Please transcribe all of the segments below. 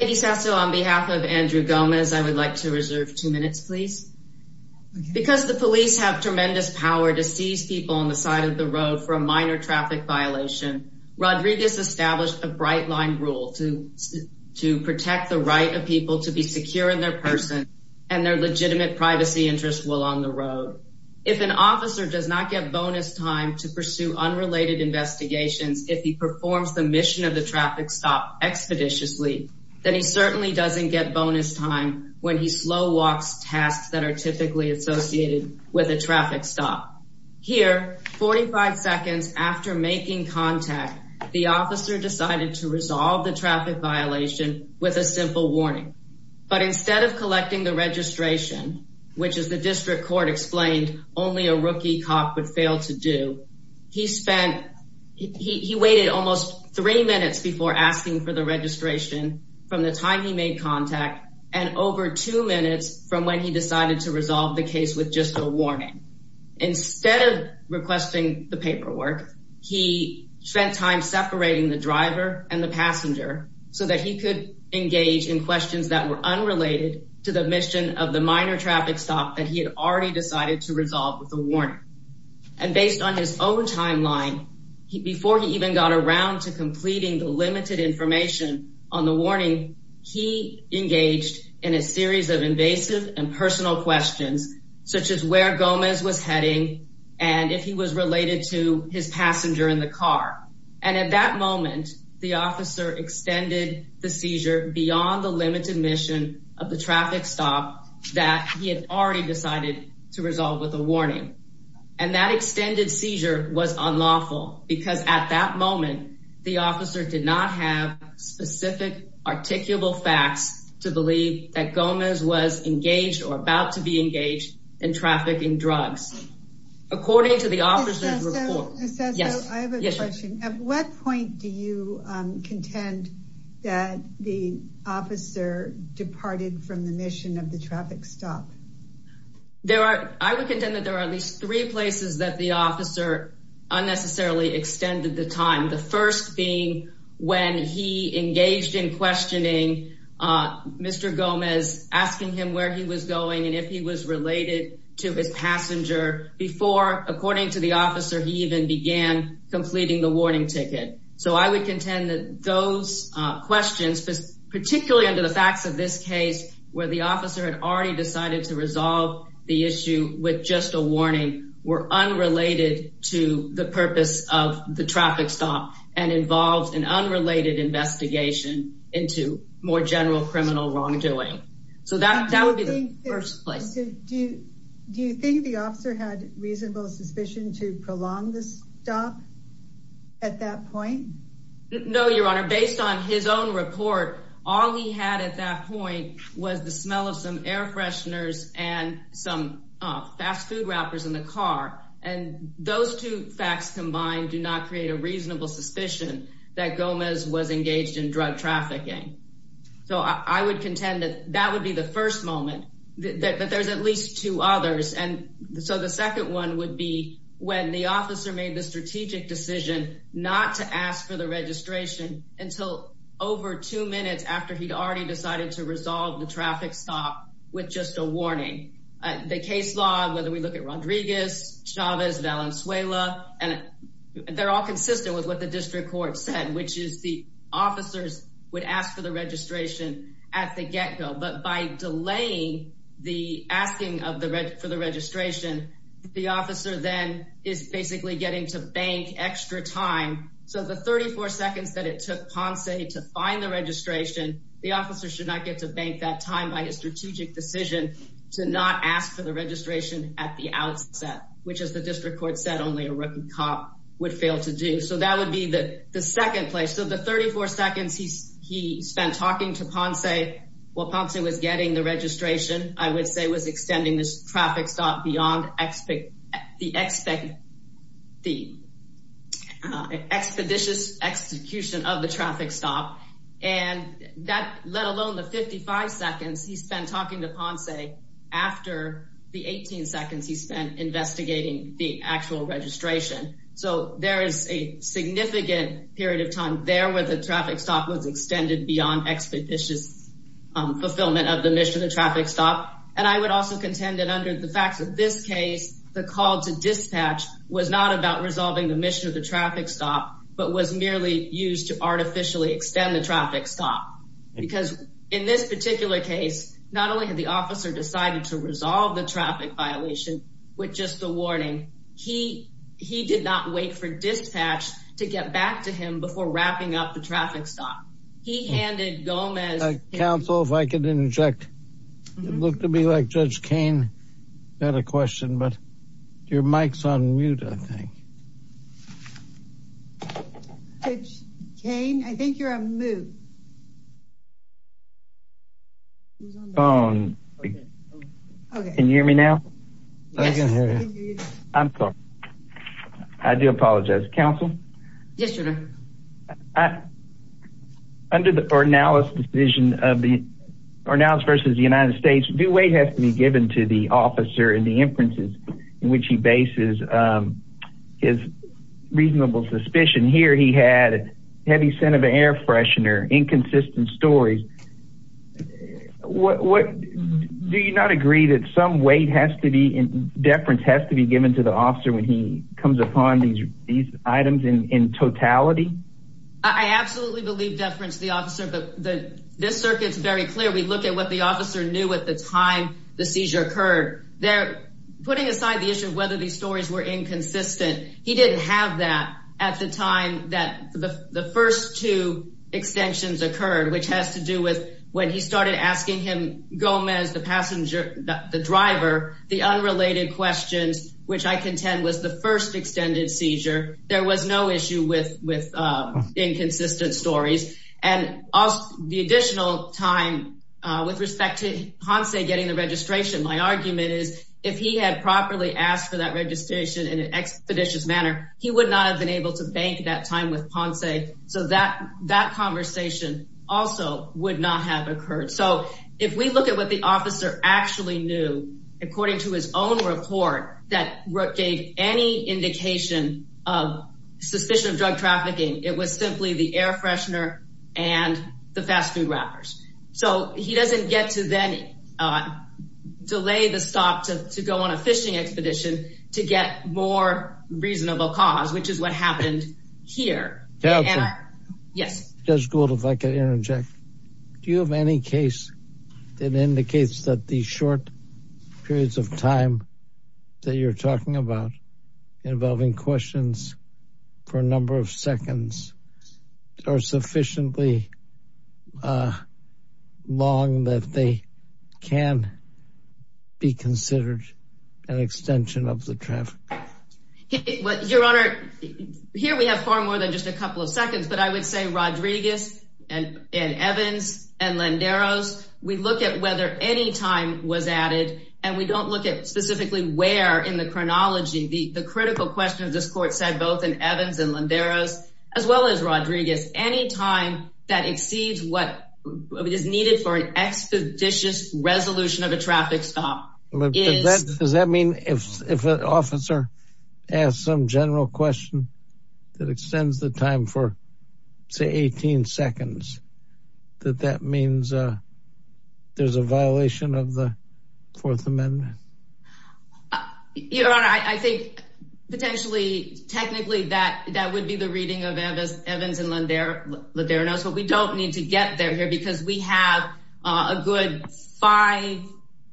on behalf of Andrew Gomez. I would like to reserve two minutes, please. Because the police have tremendous power to seize people on the side of the road for a minor traffic violation. Rodriguez established a bright line rule to to protect the right of people to be secure in their person and their legitimate privacy interests will on the road. If an officer does not get bonus time to pursue unrelated investigations, if he performs the traffic stop expeditiously, then he certainly doesn't get bonus time when he slow walks tasks that are typically associated with a traffic stop here. 45 seconds after making contact, the officer decided to resolve the traffic violation with a simple warning. But instead of collecting the registration, which is the district court explained only a rookie cop would fail to do, he waited almost three minutes before asking for the registration from the time he made contact and over two minutes from when he decided to resolve the case with just a warning. Instead of requesting the paperwork, he spent time separating the driver and the passenger so that he could engage in questions that were unrelated to the mission of the minor traffic stop that he had already decided to resolve with the warning. And based on his own timeline, before he even got around to completing the limited information on the warning, he engaged in a series of invasive and personal questions such as where Gomez was heading and if he was related to his passenger in the car. And at that moment, the officer extended the seizure beyond the limited mission of the traffic stop that he had already decided to resolve with a warning. And that extended seizure was unlawful because at that moment, the officer did not have specific, articulable facts to believe that Gomez was engaged or about to be engaged in trafficking drugs. According to the officer's report. Ms. Sesto, I have a question. At what point do you contend that the officer departed from the mission of the traffic stop? There are, I would contend that there are at least three places that the officer unnecessarily extended the time. The first being when he engaged in questioning Mr. Gomez, asking him where he was going and if he was related to his passenger before, according to the officer, he even began completing the warning ticket. So I would contend that those questions, particularly under the facts of this case, where the officer had already decided to resolve the issue with just a warning, were unrelated to the purpose of the traffic stop and involves an unrelated investigation into more general criminal wrongdoing. So that would be the first place. Do you think the officer had reasonable suspicion to prolong this stop at that point? No, your honor. Based on his own report, all he had at that point was the smell of some air fresheners and some fast food wrappers in the car. And those two facts combined do not create a reasonable suspicion that Gomez was engaged in drug trafficking. So I would contend that that would be the first moment that there's at least two others. And so the second one would be when the until over two minutes after he'd already decided to resolve the traffic stop with just a warning. The case law, whether we look at Rodriguez, Chavez, Valenzuela, and they're all consistent with what the district court said, which is the officers would ask for the registration at the get go. But by delaying the asking of the red for the registration, the officer then is Ponce to find the registration. The officer should not get to bank that time by his strategic decision to not ask for the registration at the outset, which is the district court said. Only a rookie cop would fail to do so. That would be the second place. So the 34 seconds he spent talking to Ponce while Ponce was getting the registration, I would say was extending this traffic stop beyond the expeditious execution of the traffic stop. And that, let alone the 55 seconds he spent talking to Ponce after the 18 seconds he spent investigating the actual registration. So there is a significant period of time there where the traffic stop was extended beyond expeditious fulfillment of the mission of the traffic stop. And I would also contend that under the facts of this case, the call to dispatch was not about resolving the mission of the traffic stop, but was merely used to artificially extend the traffic stop. Because in this particular case, not only had the officer decided to resolve the traffic violation with just the warning, he did not wait for dispatch to get back to him before wrapping up the traffic stop. He handed Gomez- Council, if I could interject. You look to me like Judge Kain. I had a question, but your mic's on mute, I think. Judge Kain, I think you're on mute. Phone. Can you hear me now? I'm sorry. I do apologize. Council? Yes, Your Honor. Under the Ornalis decision of the Ornalis versus the United States, due weight has to be given to the officer and the inferences in which he bases his reasonable suspicion. Here he had a heavy scent of an air freshener, inconsistent stories. Do you not agree that some weight has to be, deference has to be given to the officer when he comes upon these items in totality? I absolutely believe deference to the officer, but this circuit's very clear. We look at what the officer knew at the time the seizure occurred. Putting aside the issue of whether these stories were inconsistent, he didn't have that at the time that the first two extensions occurred, which has to do with when he started asking him, Gomez, the passenger, the driver, the unrelated questions, which I contend was the first extended seizure. There was no issue with inconsistent stories. And the additional time with respect to Ponce getting the registration, my argument is if he had properly asked for that registration in an expeditious manner, he would not have been able to bank that time with Ponce. So that conversation also would not have occurred. So if we look at what the officer actually knew, according to his own report, that gave any indication of suspicion of drug trafficking, it was simply the air freshener and the fast food wrappers. So he doesn't get to then delay the stop to go on a fishing expedition to get more reasonable cause, which is what happened here. Counselor? Yes. Judge Gould, if I could interject. Do you have any case that indicates that the short periods of time that you're talking about involving questions for a number of seconds are sufficiently long that they can be considered an extension of the traffic? Your Honor, here we have far more than just a couple of seconds, but I would say Rodriguez and Evans and Landeros, we look at whether any time was added, and we don't look at specifically where in the chronology. The critical question of this court said both in Evans and Landeros, as well as Rodriguez, any time that exceeds what is needed for an expeditious resolution of a traffic stop. Does that mean if an officer asks some general question that extends the time for, say, 18 seconds, that that means there's a violation of the Fourth Amendment? Your Honor, I think potentially, technically, that would be the reading of Evans and Landeros, but we don't need to get there here because we have a good five,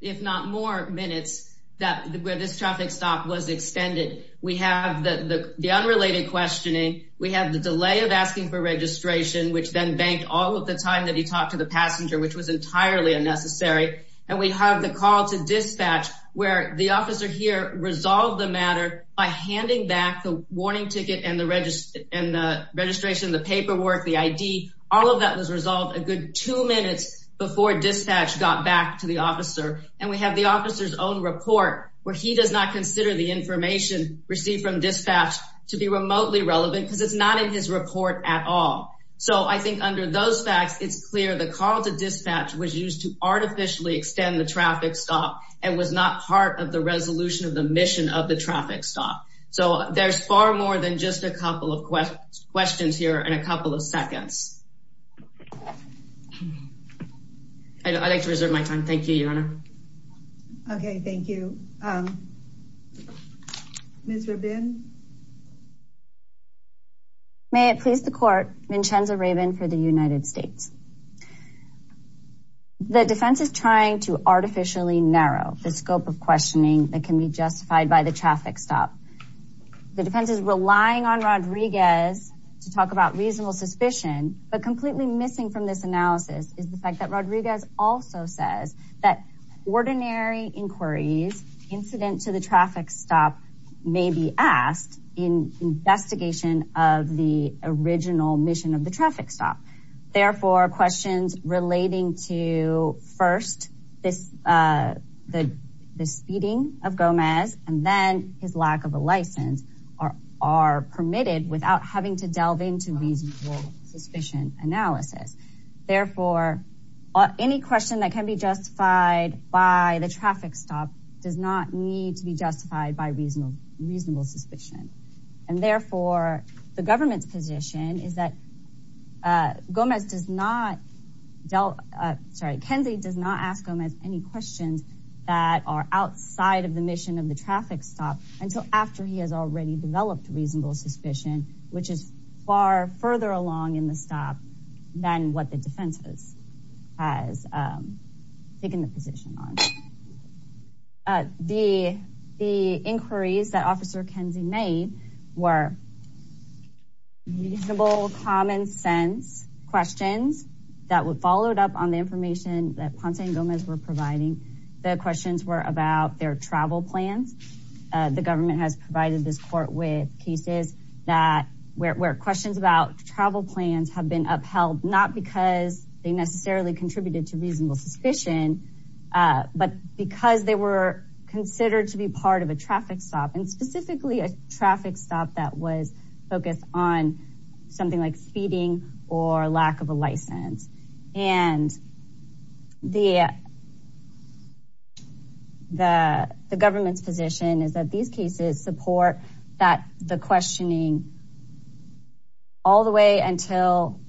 if not more, minutes where this traffic stop was extended. We have the unrelated questioning. We have the delay of asking for registration, which then banked all of the time that he talked to the passenger, which was entirely unnecessary. And we have the call to dispatch where the officer here resolved the matter by handing back the warning ticket and the registration, the paperwork, the ID. All of that was two minutes before dispatch got back to the officer. And we have the officer's own report where he does not consider the information received from dispatch to be remotely relevant because it's not in his report at all. So I think under those facts, it's clear the call to dispatch was used to artificially extend the traffic stop and was not part of the resolution of the mission of the traffic stop. So there's far more than just a couple of questions here in a couple of seconds. I'd like to reserve my time. Thank you, Your Honor. Okay, thank you. Ms. Rabin? May it please the court, Vincenza Rabin for the United States. The defense is trying to artificially narrow the scope of questioning that can be justified by the traffic stop. The defense is relying on Rodriguez to talk about reasonable suspicion, but completely missing from this analysis is the fact that Rodriguez also says that ordinary inquiries incident to the traffic stop may be asked in investigation of the original mission of the traffic stop. Therefore, questions relating to first this the speeding of Gomez and then his lack of a suspicion analysis. Therefore, any question that can be justified by the traffic stop does not need to be justified by reasonable suspicion. And therefore, the government's position is that Gomez does not, sorry, Kenzie does not ask Gomez any questions that are outside of the mission of the traffic stop until after he has already developed reasonable suspicion, which is far further along in the stop than what the defense has taken the position on. The inquiries that Officer Kenzie made were reasonable, common-sense questions that would followed up on the information that Ponce and Gomez were providing. The questions were about their travel plans. The government has about travel plans have been upheld not because they necessarily contributed to reasonable suspicion, but because they were considered to be part of a traffic stop and specifically a traffic stop that was focused on something like speeding or lack of a license. And the government's position is that these cases support that the questioning all the way until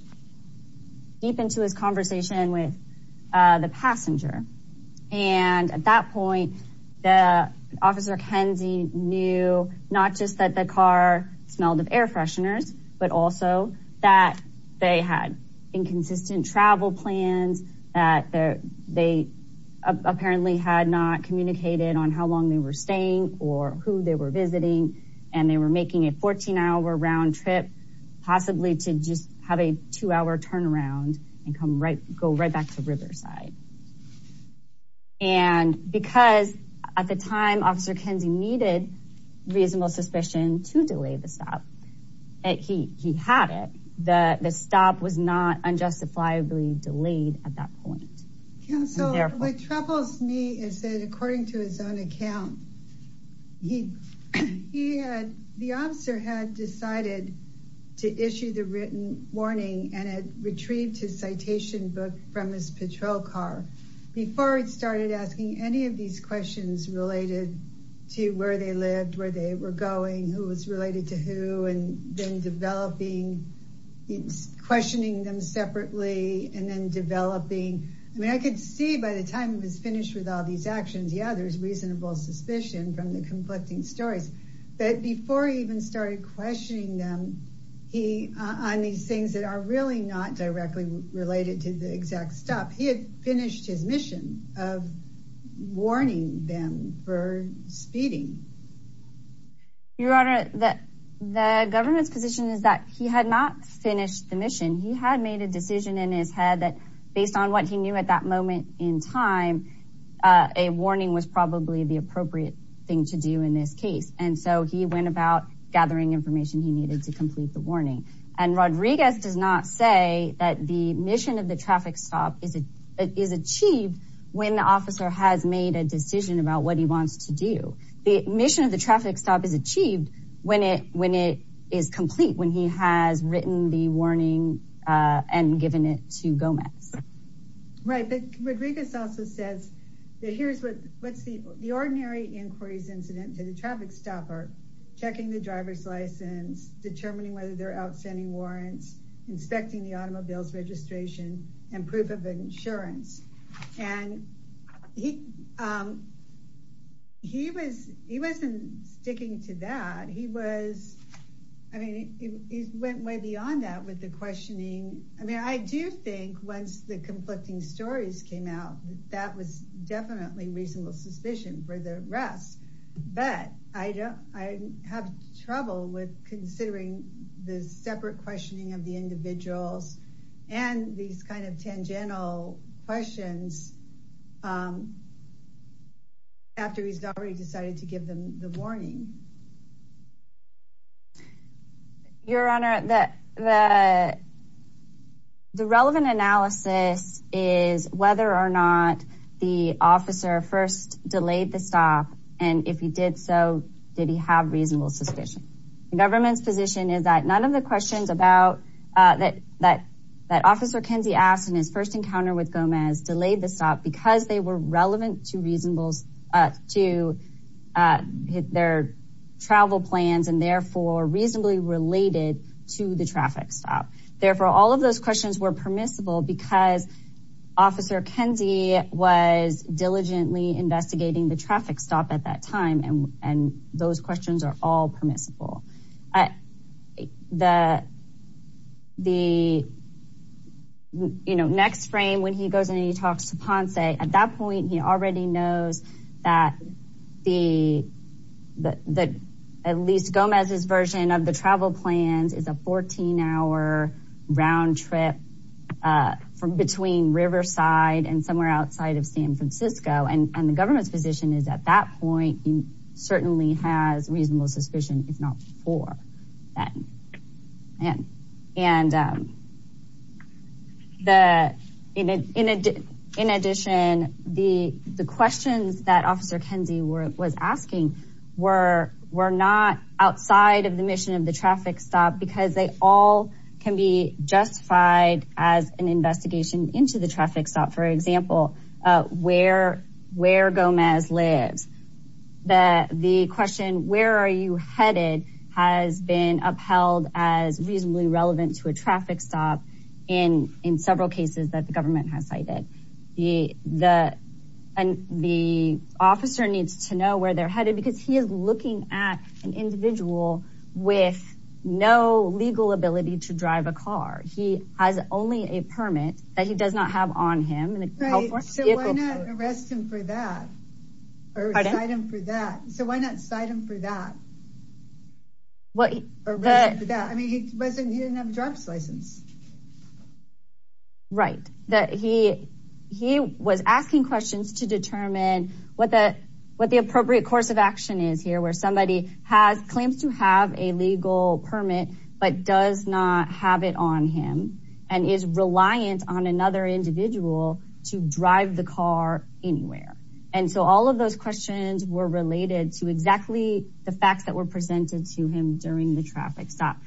deep into his conversation with the passenger. And at that point, the Officer Kenzie knew not just that the car smelled of air fresheners, but also that they had inconsistent travel plans, that they apparently had not communicated on how long they were visiting and they were making a 14-hour round trip possibly to just have a two- hour turnaround and come right go right back to Riverside. And because at the time Officer Kenzie needed reasonable suspicion to delay the stop, he had it. The stop was not unjustifiably delayed at that point. Council, what troubles me is that according to his own account, he had, the officer had decided to issue the written warning and had retrieved his citation book from his patrol car before he started asking any of these questions related to where they lived, where they were going, who was related to who, and then developing, questioning them separately, and then developing. I mean, I could see by the time he was finished with all these actions, yeah, there's reasonable suspicion from the conflicting stories. But before he even started questioning them, he, on these things that are really not directly related to the exact stop, he had finished his mission of warning them for speeding. Your Honor, the government's position is that he had not finished the mission. He had made a decision in his head that based on what he knew at that moment in time, a warning was probably the appropriate thing to do in this case. And so he went about gathering information he needed to complete the warning. And Rodriguez does not say that the mission of the traffic stop is achieved when the mission of the traffic stop is achieved when it is complete, when he has written the warning and given it to Gomez. Right, but Rodriguez also says that here's what's the ordinary inquiries incident to the traffic stopper, checking the driver's license, determining whether they're outstanding warrants, inspecting the automobile's He wasn't sticking to that. He was, I mean, he went way beyond that with the questioning. I mean, I do think once the conflicting stories came out, that was definitely reasonable suspicion for the rest. But I don't, I have trouble with considering the separate questioning of the individuals and these kind of tangential questions after he's already decided to give them the warning. Your Honor, the relevant analysis is whether or not the officer first delayed the stop. And if he did so, did he have reasonable suspicion? The government's is that none of the questions about that, that, that officer Kenzie asked in his first encounter with Gomez delayed the stop because they were relevant to reasonables to their travel plans and therefore reasonably related to the traffic stop. Therefore, all of those questions were permissible because officer Kenzie was diligently investigating the traffic stop at that time. And, and those questions are all permissible. The, the, you know, next frame when he goes in and he talks to Ponce at that point, he already knows that the, the, at least Gomez's version of the travel plans is a 14 hour round trip from between Riverside and somewhere outside of San Francisco. And the government's position is at that point, he certainly has reasonable suspicion if not for that. And, and the, in, in addition, the, the questions that officer Kenzie were, was asking were, were not outside of the mission of the traffic stop because they all can be justified as an investigation into the traffic stop. For example, where, where Gomez lives, the, the question, where are you headed has been upheld as reasonably relevant to a traffic stop in, in several cases that the government has cited. The, the, and the officer needs to know where they're headed because he is looking at an individual with no legal ability to Right, so why not arrest him for that? Or cite him for that? So why not cite him for that? Well, I mean, he wasn't, he didn't have a driver's license. Right, that he, he was asking questions to determine what the, what the appropriate course of action is here, where somebody has claims to have a to drive the car anywhere. And so all of those questions were related to exactly the facts that were presented to him during the traffic stop.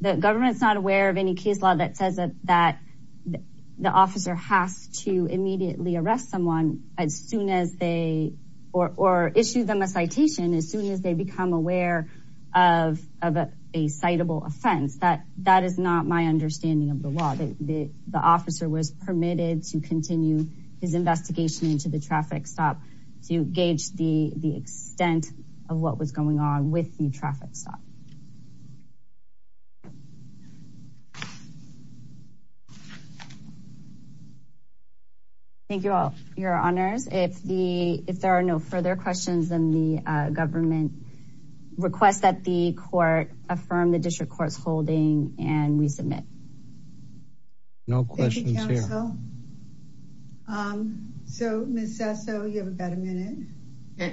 The government's not aware of any case law that says that, that the officer has to immediately arrest someone as soon as they, or, or issue them a citation as soon as they become aware of, of a citable offense. That, that is not my understanding of the law. The, the officer was permitted to continue his investigation into the traffic stop to gauge the, the extent of what was going on with the traffic stop. Thank you all for your honors. If the, if there are no further questions, then the government requests that the court affirm the district court's holding and resubmit. No questions here. So Ms. Sesso, you have about a minute.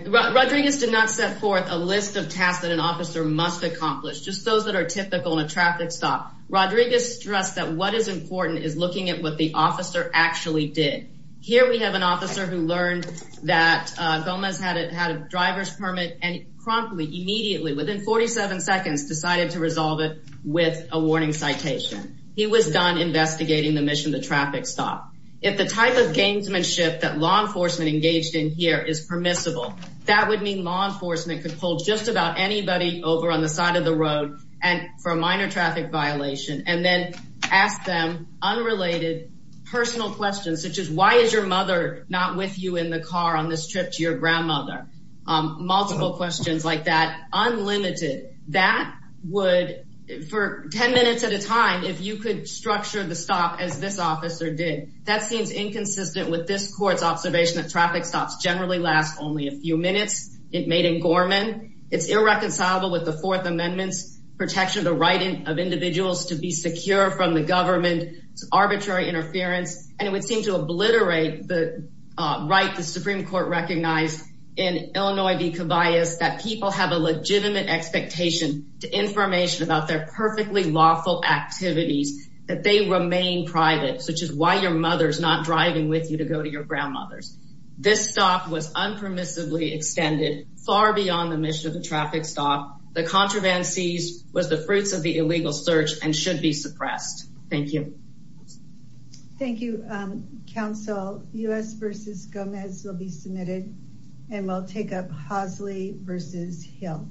Rodriguez did not set forth a list of tasks that an officer must accomplish. Just those that are typical in a traffic stop. Rodriguez stressed that what is important is looking at what the officer actually did. Here we have an officer who learned that Gomez had a, had a driver's permit and promptly, immediately, within 47 seconds, decided to resolve it with a warning citation. He was done investigating the mission of the traffic stop. If the type of gamesmanship that law enforcement engaged in here is permissible, that would mean law enforcement could pull just about anybody over on the side of the road and for a minor traffic violation, and then ask them unrelated personal questions, such as why is your mother not with you in the car on this trip to your That would, for 10 minutes at a time, if you could structure the stop as this officer did, that seems inconsistent with this court's observation that traffic stops generally last only a few minutes. It made in Gorman. It's irreconcilable with the fourth amendment's protection of the right of individuals to be secure from the government's arbitrary interference, and it would seem to obliterate the right the Supreme Court recognized in Illinois that people have a legitimate expectation to information about their perfectly lawful activities, that they remain private, such as why your mother's not driving with you to go to your grandmother's. This stop was unpermissively extended far beyond the mission of the traffic stop. The contraband seized was the fruits of the illegal search and should be suppressed. Thank you. Thank you, counsel. U.S. versus Gomez will be versus Hill.